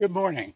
Good morning.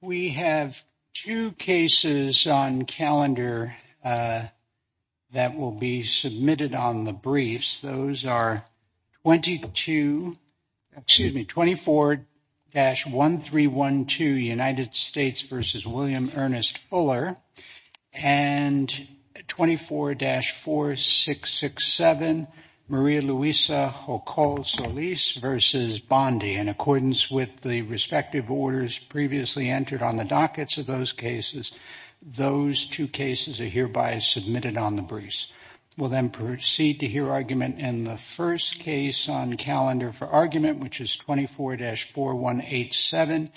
We have two cases on calendar that will be submitted on the briefs. Those are 22, excuse me, 24-1312 United States versus William Ernest Fuller and 24-4667 Maria Luisa Jocol-Solis versus Bondi. In accordance with the respective orders previously entered on the dockets of those cases, those two cases are hereby submitted on the briefs. We'll then proceed to hear argument in the first case on calendar for argument, which is 24-4187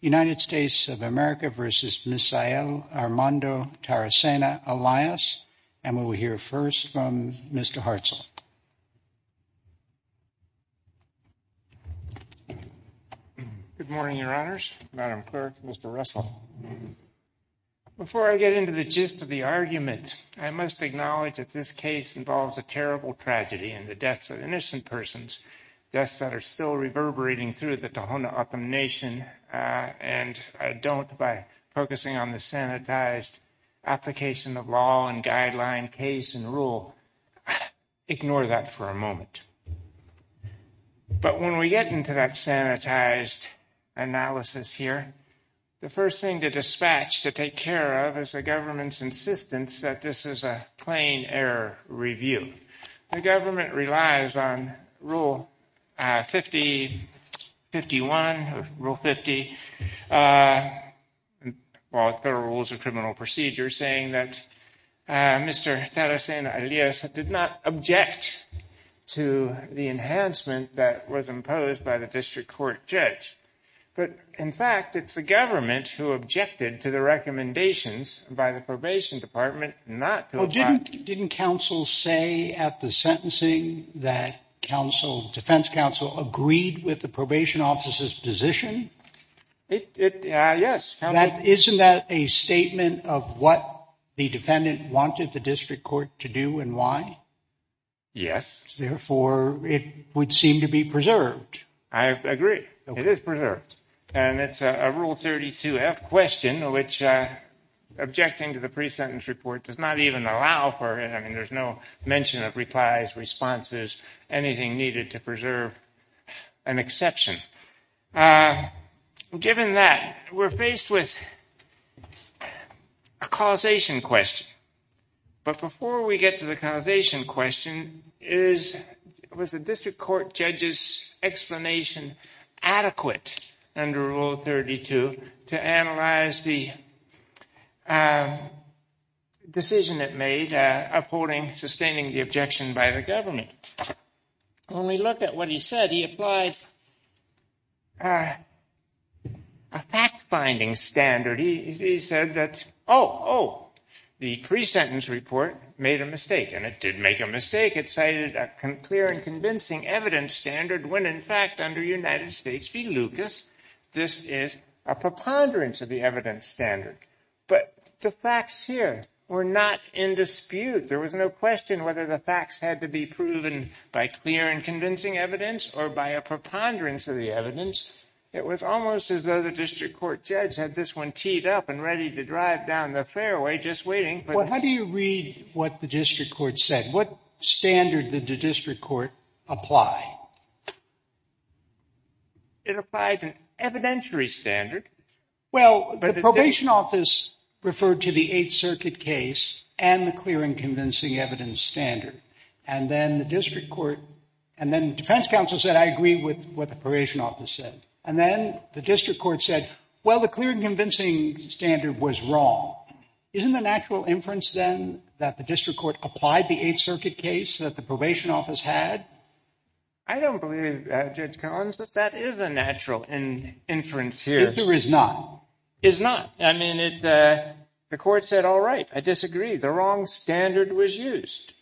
United States of America versus Misael Armando Taracena-Elias. And we will hear first from Mr. Hartzell. Good morning, Your Honors. Madam Clerk, Mr. Russell. Before I get into the gist of the argument, I must acknowledge that this case involves a terrible tragedy and the deaths of innocent persons, deaths that are still reverberating through the Tohono O'odham Nation, and I don't, by focusing on the sanitized application of law and guideline, case, and rule, ignore that for a moment. But when we get into that sanitized analysis here, the first thing to dispatch to take care of is the government's insistence that this is a plain error review. The government relies on Rule 50, 51, Rule 50, Federal Rules of Criminal Procedure, saying that Mr. Taracena-Elias did not object to the enhancement that was imposed by the district court judge. But, in fact, it's the government who objected to the recommendations by the probation department not to object. Well, didn't counsel say at the sentencing that counsel, defense counsel, agreed with the probation officer's position? Yes. Isn't that a statement of what the defendant wanted the district court to do and why? Yes. Therefore, it would seem to be preserved. I agree. It is preserved. And it's a Rule 32-F question, which objecting to the pre-sentence report does not even allow for, I mean, there's no mention of replies, responses, anything needed to preserve an exception. Given that, we're faced with a causation question. But adequate under Rule 32 to analyze the decision it made upholding, sustaining the objection by the government. When we look at what he said, he applied a fact-finding standard. He said that, oh, oh, the pre-sentence report made a mistake. And it did make a mistake. It cited a clear and convincing evidence standard when, in fact, under United States v. Lucas, this is a preponderance of the evidence standard. But the facts here were not in dispute. There was no question whether the facts had to be proven by clear and convincing evidence or by a preponderance of the evidence. It was almost as though the district court judge had this one teed up and ready to drive down the fairway just waiting. Well, how do you read what the district court said? What standard did the district court apply? It applied an evidentiary standard. Well, the probation office referred to the Eighth Circuit case and the clear and convincing evidence standard. And then the district court and then defense counsel said, I agree with what the probation office said. And then the district court said, well, the clear and convincing standard was wrong. Isn't the natural inference, then, that the district court applied the Eighth Circuit case that the probation office had? I don't believe, Judge Collins, that that is a natural inference here. It sure is not. Is not. I mean, the court said, all right, I disagree. The wrong standard was used.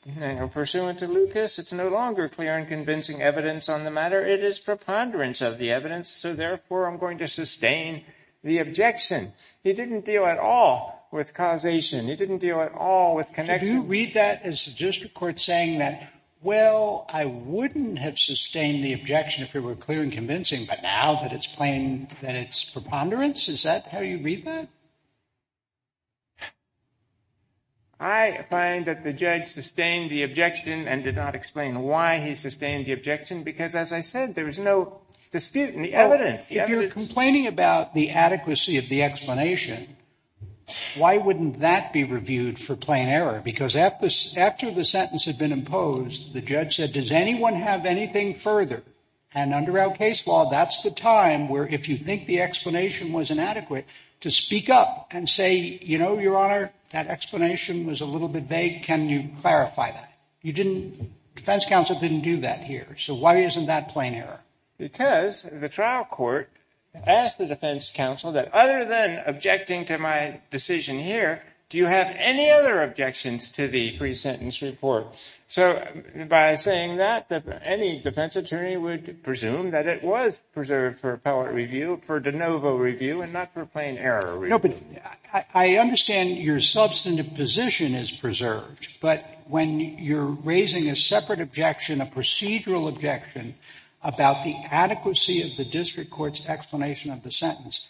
Pursuant to Lucas, it's no longer clear and convincing evidence on the matter. It is preponderance of the evidence. So therefore, I'm going to sustain the objection. He didn't deal at all with causation. He didn't deal at all with connection. Did you read that as the district court saying that, well, I wouldn't have sustained the objection if it were clear and convincing, but now that it's plain that it's preponderance? Is that how you read that? I find that the judge sustained the objection and did not explain why he sustained the objection, because as I said, there was no dispute in the evidence. If you're complaining about the adequacy of the explanation, why wouldn't that be reviewed for plain error? Because after the sentence had been imposed, the judge said, does anyone have anything further? And under our case law, that's the time where if you think the explanation was inadequate to speak up and say, you know, Your Honor, that explanation was a little bit vague. Can you clarify that? You didn't. Defense counsel didn't do that here. So why isn't that plain error? Because the trial court asked the defense counsel that other than objecting to my decision here, do you have any other objections to the pre-sentence report? So by saying that, any defense attorney would presume that it was preserved for appellate review, for de novo review and not for plain error. No, but I understand your substantive position is preserved. But when you're raising a separate objection, a procedural objection about the adequacy of the district court's explanation of the sentence,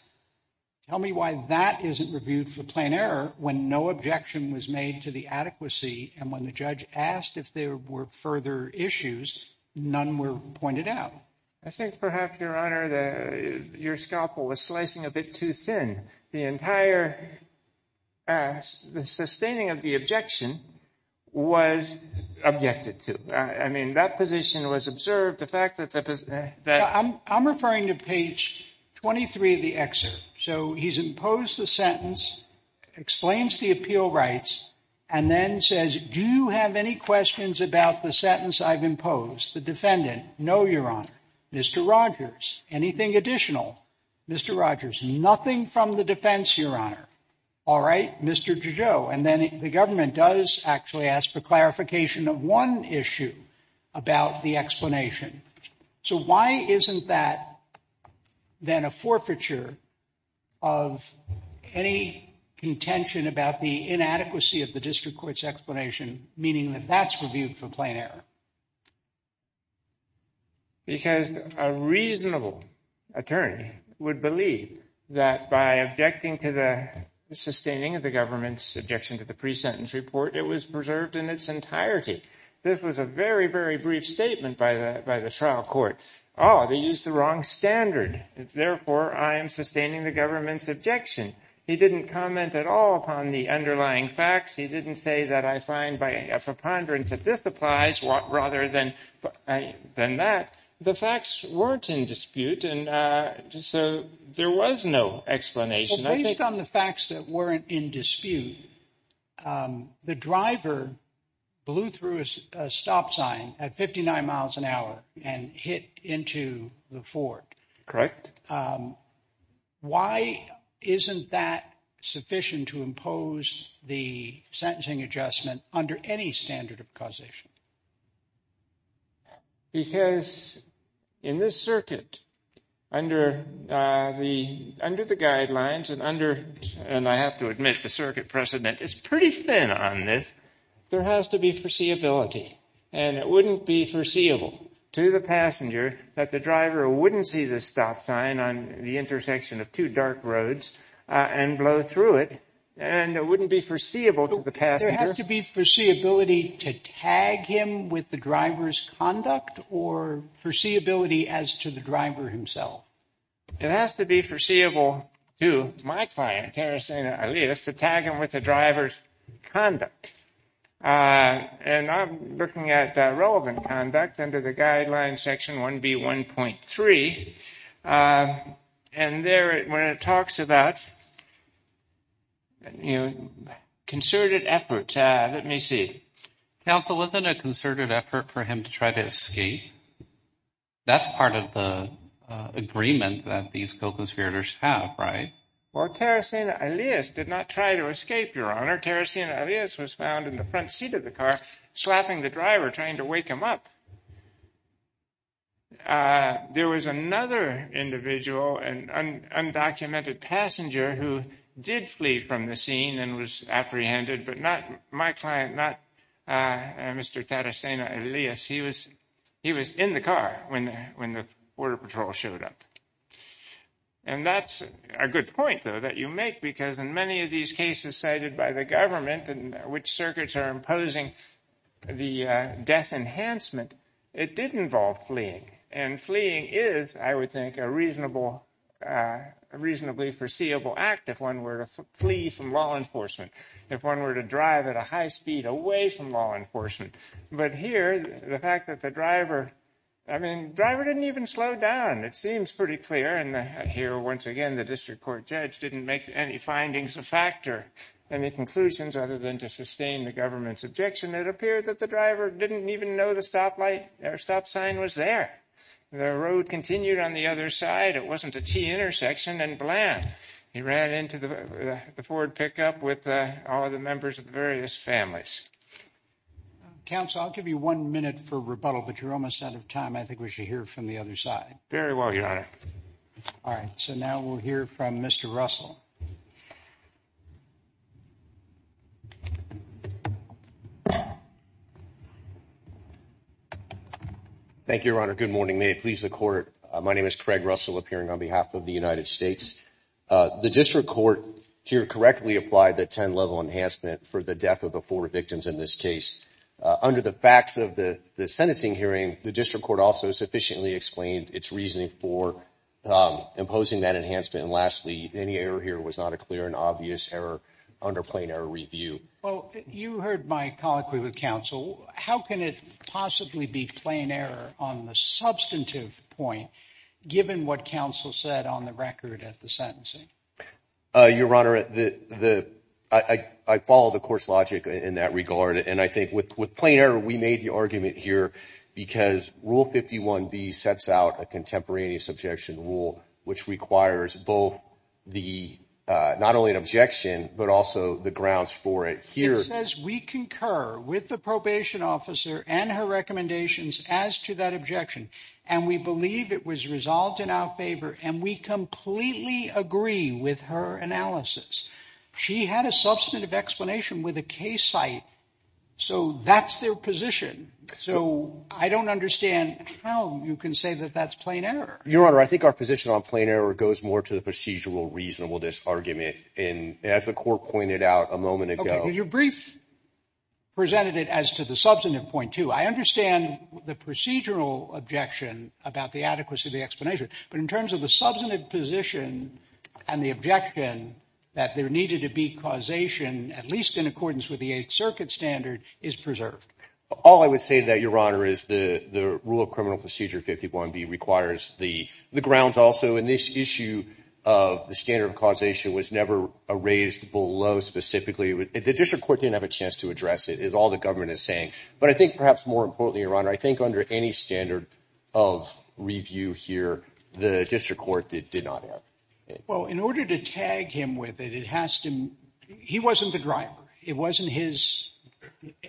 tell me why that isn't reviewed for plain error when no objection was made to the adequacy and when the judge asked if there were further issues, none were pointed out. I think perhaps, Your Honor, your scalpel was slicing a bit too thin. The entire sustaining of the objection was objected to. I mean, that position was observed. The fact that the position that I'm referring to page 23 of the excerpt. So he's imposed the sentence, explains the appeal rights, and then says, do you have any questions about the sentence I've imposed? The defendant? No, Your Honor. Mr. Rogers, anything additional? Mr. Rogers, nothing from the defense, Your Honor. All right, Mr. DeJou. And then the government does actually ask for clarification of one issue about the explanation. So why isn't that then a forfeiture of any contention about the inadequacy of the district court's explanation, meaning that that's reviewed for plain error? Because a reasonable attorney would believe that by objecting to the sustaining of the government's objection to the pre-sentence report, it was preserved in its entirety. This was a very, very brief statement by the trial court. Oh, they used the wrong standard. Therefore, I am sustaining the government's objection. He didn't comment at all upon the underlying facts. He didn't say that I find by a preponderance that this applies rather than that. The facts weren't in dispute. And so there was no explanation. Based on the facts that weren't in dispute, the driver blew through a stop sign at 59 miles an hour and hit into the Ford. Correct. Why isn't that sufficient to impose the sentencing adjustment under any standard of causation? Because in this circuit, under the guidelines and under and I have to admit, the circuit precedent is pretty thin on this. There has to be foreseeability and it wouldn't be foreseeable to the passenger that the driver wouldn't see the stop sign on the intersection of two dark roads and blow through it. And it wouldn't be foreseeable to the passenger. There has to be foreseeability to tag him with the driver's conduct or foreseeability as to the driver himself. It has to be foreseeable to my client, Tarasena Alias, to tag him with the driver's conduct. And I'm looking at relevant conduct under the guidelines section 1B1.3. And there, when it talks about concerted efforts, let me see. Counsel, wasn't a concerted effort for him to try to escape? That's part of the agreement that these co-conspirators have, right? Well, Tarasena Alias did not try to escape, Your Honor. Tarasena Alias was found in the front seat of the car, slapping the driver, trying to wake him up. There was another individual, an undocumented passenger, who did flee from the scene and was apprehended, but not my client, not Mr. Tarasena Alias. He was in the car when the border patrol showed up. And that's a good point, though, that you make, because in many of these cases cited by the government in which circuits are imposing the death enhancement, it did involve fleeing. And fleeing is, I would think, a reasonably foreseeable act if one were to flee from law enforcement, if one were to drive at a high speed away from law enforcement. But here, the fact that the driver, I mean, the driver didn't even slow down. It seems pretty clear. And here, once again, the district court judge didn't make any findings a factor, any conclusions other than to sustain the government's objection. It appeared that the driver didn't even know the stop light, or stop sign was there. The road continued on the other side. It wasn't a T-intersection and bland. He ran into the Ford pickup with all of the but you're almost out of time. I think we should hear from the other side. Very well, Your Honor. All right. So now we'll hear from Mr. Russell. Thank you, Your Honor. Good morning. May it please the court. My name is Craig Russell, appearing on behalf of the United States. The district court here correctly applied the 10 level enhancement for the death of the four victims in this case. Under the facts of the sentencing hearing, the district court also sufficiently explained its reasoning for imposing that enhancement. And lastly, any error here was not a clear and obvious error under plain error review. Well, you heard my colloquy with counsel. How can it possibly be plain error on the substantive point, given what counsel said on the record at the sentencing? Your Honor, I follow the court's logic in that regard. And I think with plain error, we made the argument here because Rule 51B sets out a contemporaneous objection rule, which requires both the not only an objection, but also the grounds for it here. It says we concur with the probation officer and her recommendations as to that objection. And we believe it was resolved in our favor. And we completely agree with her analysis. She had a substantive explanation with a case site. So that's their position. So I don't understand how you can say that that's plain error. Your Honor, I think our position on plain error goes more to the procedural reasonableness argument. And as the court pointed out a moment ago, your brief presented it as to the substantive point, too. I understand the procedural objection about the adequacy of the explanation. But in terms of the substantive position and the objection that there needed to be causation, at least in accordance with the Eighth Circuit standard, is preserved. All I would say to that, Your Honor, is the rule of criminal procedure 51B requires the grounds also in this issue of the standard of causation was never raised below specifically. The district court didn't have a chance to address it, is all the government is saying. But I think perhaps more importantly, your Honor, I think under any standard of review here, the district court did not have it. Well, in order to tag him with it, it has to he wasn't the driver. It wasn't his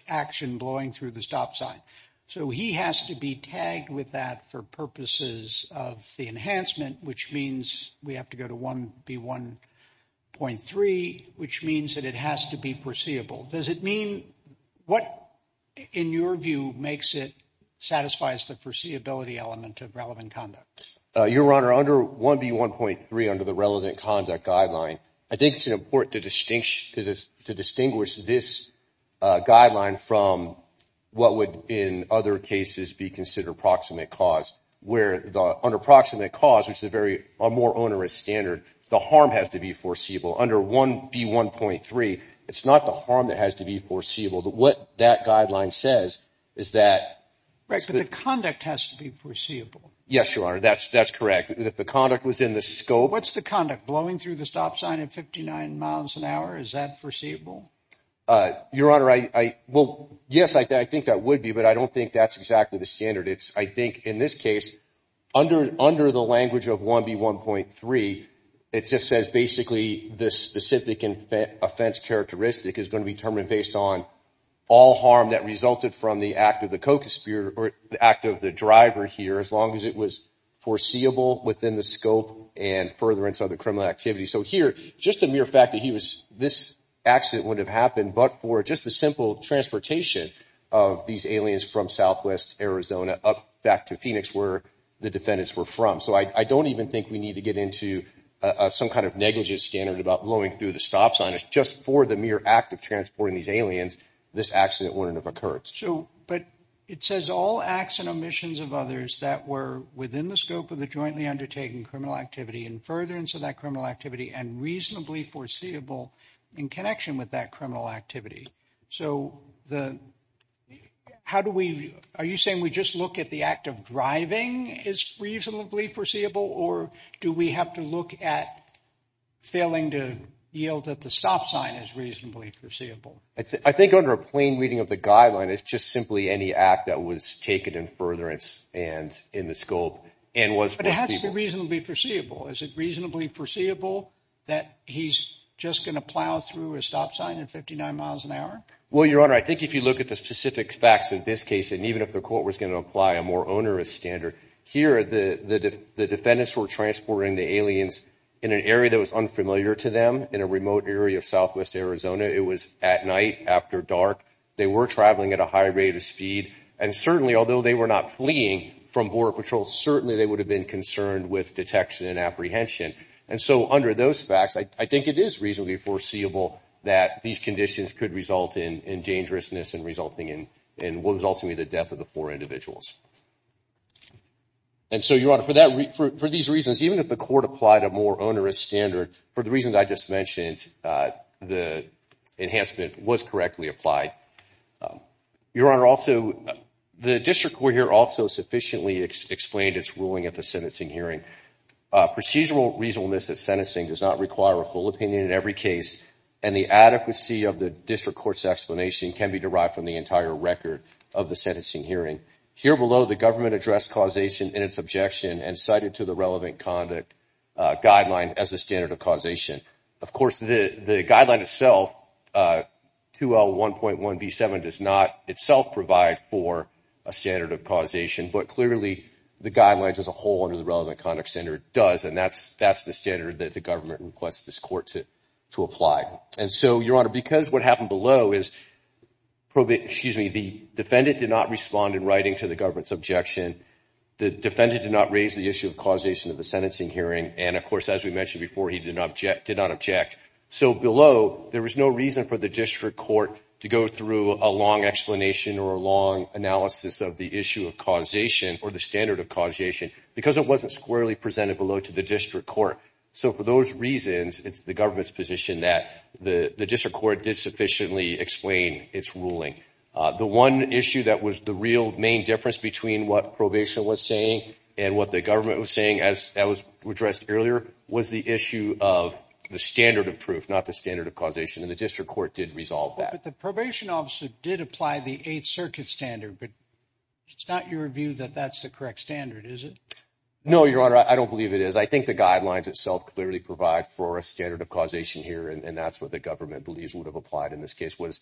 action blowing through the stop sign. So he has to be tagged with that for purposes of the enhancement, which means we have to go to 1B1.3, which means that it has to be foreseeable. Does it mean what, in your view, makes it satisfies the foreseeability element of relevant conduct? Your Honor, under 1B1.3, under the relevant conduct guideline, I think it's important to distinguish this guideline from what would in other cases be considered proximate cause, where under proximate cause, which is a very more onerous standard, the harm has to be foreseeable. Under 1B1.3, it's not the harm that has to be foreseeable. But what that guideline says is that the conduct has to be foreseeable. Yes, Your Honor, that's correct. If the conduct was in the scope, what's the conduct blowing through the stop sign at 59 miles an hour? Is that foreseeable? Your Honor, I will. Yes, I think that would be. But I don't think that's exactly the standard. It's I think in this case, under under the language of 1B1.3, it just says basically the specific offense characteristic is going to be determined based on all harm that resulted from the act of the co-conspirator or the act of the driver here, as long as it was foreseeable within the scope and furtherance of the criminal activity. So here, just the mere fact that he was this accident would have happened, but for just the simple transportation of these aliens from southwest Arizona up back to Phoenix, where the defendants were from. So I don't even think we need to get some kind of negligence standard about blowing through the stop sign. It's just for the mere act of transporting these aliens. This accident wouldn't have occurred. So but it says all acts and omissions of others that were within the scope of the jointly undertaken criminal activity and furtherance of that criminal activity and reasonably foreseeable in connection with that criminal activity. So the how do we are you saying we just look at the act of driving is reasonably foreseeable or do we have to look at failing to yield that the stop sign is reasonably foreseeable? I think under a plain reading of the guideline, it's just simply any act that was taken in furtherance and in the scope and was reasonably foreseeable. Is it reasonably foreseeable that he's just going to plow through a stop sign at 59 miles an hour? Well, Your Honor, I think if you look at the specific facts in this case, and even if the court was going to apply a more onerous standard here, the defendants were transporting the aliens in an area that was unfamiliar to them in a remote area of southwest Arizona. It was at night after dark. They were traveling at a high rate of speed. And certainly, although they were not fleeing from Border Patrol, certainly they would have been concerned with detection and apprehension. And so under those facts, I think it is reasonably foreseeable that these conditions could result in dangerousness and resulting in what was ultimately the death of the four individuals. And so, Your Honor, for these reasons, even if the court applied a more onerous standard, for the reasons I just mentioned, the enhancement was correctly applied. Your Honor, also, the district court here also sufficiently explained its ruling at the sentencing hearing. Procedural reasonableness at sentencing does not require a full opinion in every case and the adequacy of the district court's explanation can be derived from the entire record of the sentencing hearing. Here below, the government addressed causation in its objection and cited to the relevant conduct guideline as a standard of causation. Of course, the guideline itself, 2L1.1b7, does not itself provide for a standard of causation, but clearly the guidelines as a whole under the relevant conduct standard does, and that's the standard that the government requests this court to apply. And so, Your Honor, because what happened below is, excuse me, the defendant did not respond in writing to the government's objection, the defendant did not raise the issue of causation at the sentencing hearing, and of course, as we mentioned before, he did not object. So below, there was no reason for the district court to go through a long explanation or a long analysis of the issue of causation or the standard of causation because it wasn't squarely presented below to the district court. So for those reasons, it's the government's position that the district court did sufficiently explain its ruling. The one issue that was the real main difference between what probation was saying and what the government was saying, as was addressed earlier, was the issue of the standard of proof, not the standard of causation, and the district court did resolve that. But the probation officer did apply the Eighth Circuit standard, but it's not your view that that's the correct standard, is it? No, Your Honor, I don't believe it is. I think the guidelines itself clearly provide for a standard of causation here, and that's what the government believes would have applied in this case. What is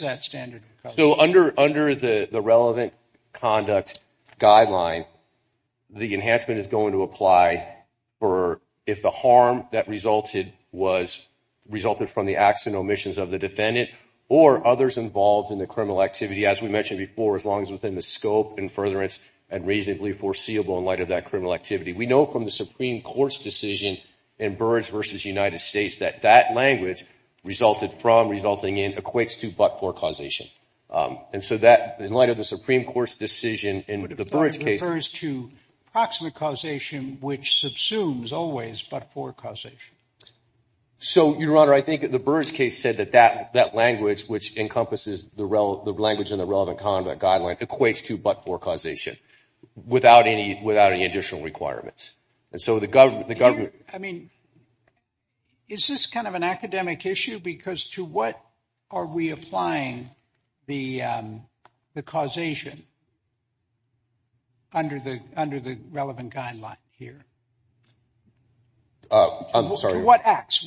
that standard of causation? So under the relevant conduct guideline, the enhancement is going to apply if the harm that resulted from the acts and omissions of the defendant or others involved in the criminal activity, as we mentioned before, as long as within the scope and furtherance and reasonably foreseeable in light of that criminal activity. We know from the Supreme Court's decision in Burrage v. United States that that language, resulted from, resulting in, equates to but-for causation. And so that, in light of the Supreme Court's decision in the Burrage case... But it refers to proximate causation, which subsumes always but-for causation. So, Your Honor, I think the Burrage case said that that language, which encompasses the language in the relevant conduct guideline, equates to but-for causation, without any additional requirements. And so the government... I mean, is this kind of an academic issue? Because to what are we applying the causation under the relevant guideline here? I'm sorry? What acts?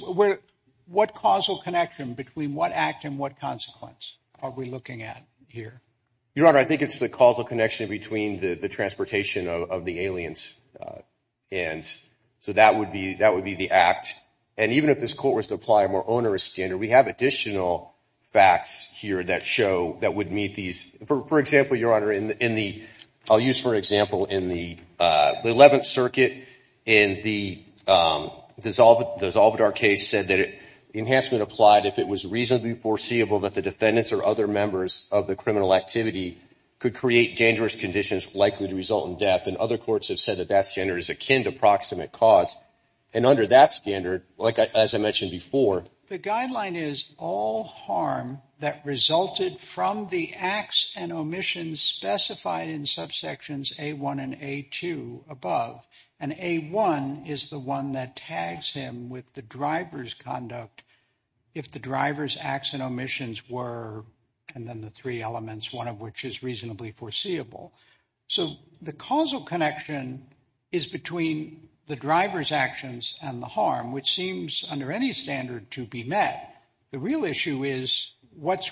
What causal connection between what act and what consequence are we looking at here? Your Honor, I think it's the causal connection between the transportation of the aliens. And so that would be the act. And even if this Court was to apply a more onerous standard, we have additional facts here that show, that would meet these... For example, Your Honor, in the... I'll use, for example, in the Eleventh Circuit, in the Dissolvidar case, said that enhancement applied if it was reasonably foreseeable that the defendants or other members of the criminal activity could create dangerous conditions likely to result in death. And other courts have said that that standard is akin to proximate cause. And under that standard, as I mentioned before... The guideline is all harm that resulted from the acts and omissions specified in subsections A1 and A2 above. And A1 is the one that tags him with the driver's conduct if the driver's acts and omissions were... And then the three elements, one of which is reasonably foreseeable. So the causal connection is between the driver's actions and the harm, which seems under any standard to be met. The real issue is what's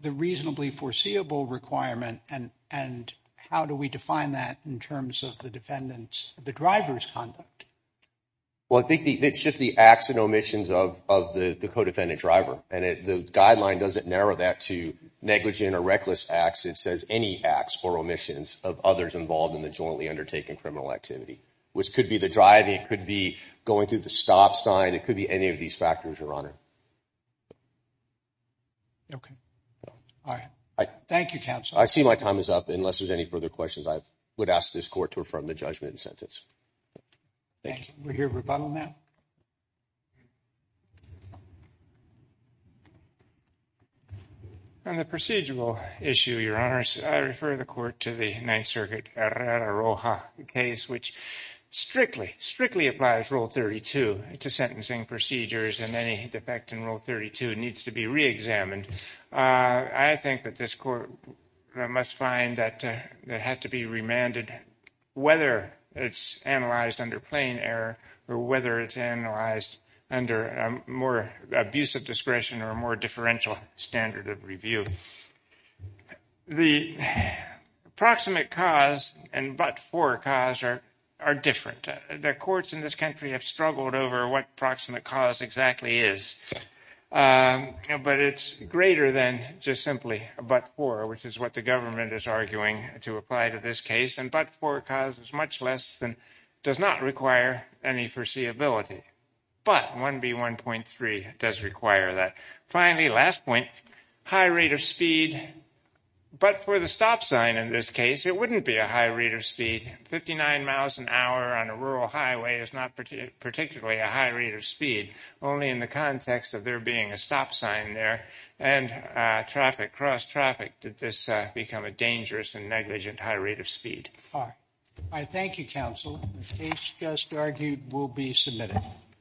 the reasonably foreseeable requirement and how do we define that in terms of the defendant's... The driver's conduct? Well, I think it's just the acts and omissions of the co-defendant driver. And the guideline doesn't narrow that to negligent or reckless acts. It says any acts or omissions of others involved in the jointly undertaken criminal activity, which could be the driving. It could be going through the stop sign. It could be any of these factors, Your Honor. Okay. All right. Thank you, counsel. I see my time is up. Unless there's any further questions, I would ask this court to affirm the judgment and sentence. Thank you. We're here for rebuttal now. On the procedural issue, Your Honors, I refer the court to the Ninth Circuit Arrara-Roja case, which strictly, strictly applies Rule 32 to sentencing procedures, and any defect in Rule 32 needs to be reexamined. I think that this court must find that it had to be remanded, whether it's analyzed under plain error or whether it's analyzed under a more abusive discretion or a more differential standard of review. The proximate cause and but-for cause are different. The courts in this country have struggled over what proximate cause exactly is. But it's greater than just simply but-for, which is what the government is arguing to apply to this case. And but-for cause is much less than, does not require any foreseeability. But 1B1.3 does require that. Finally, last point, high rate of speed. But for the stop sign in this case, it wouldn't be a high rate of speed. Fifty-nine miles an hour on a rural highway is not particularly a high rate of speed, only in the context of there being a stop sign there and traffic, cross-traffic, did this become a dangerous and negligent high rate of speed. I thank you, counsel. The case just argued will be submitted.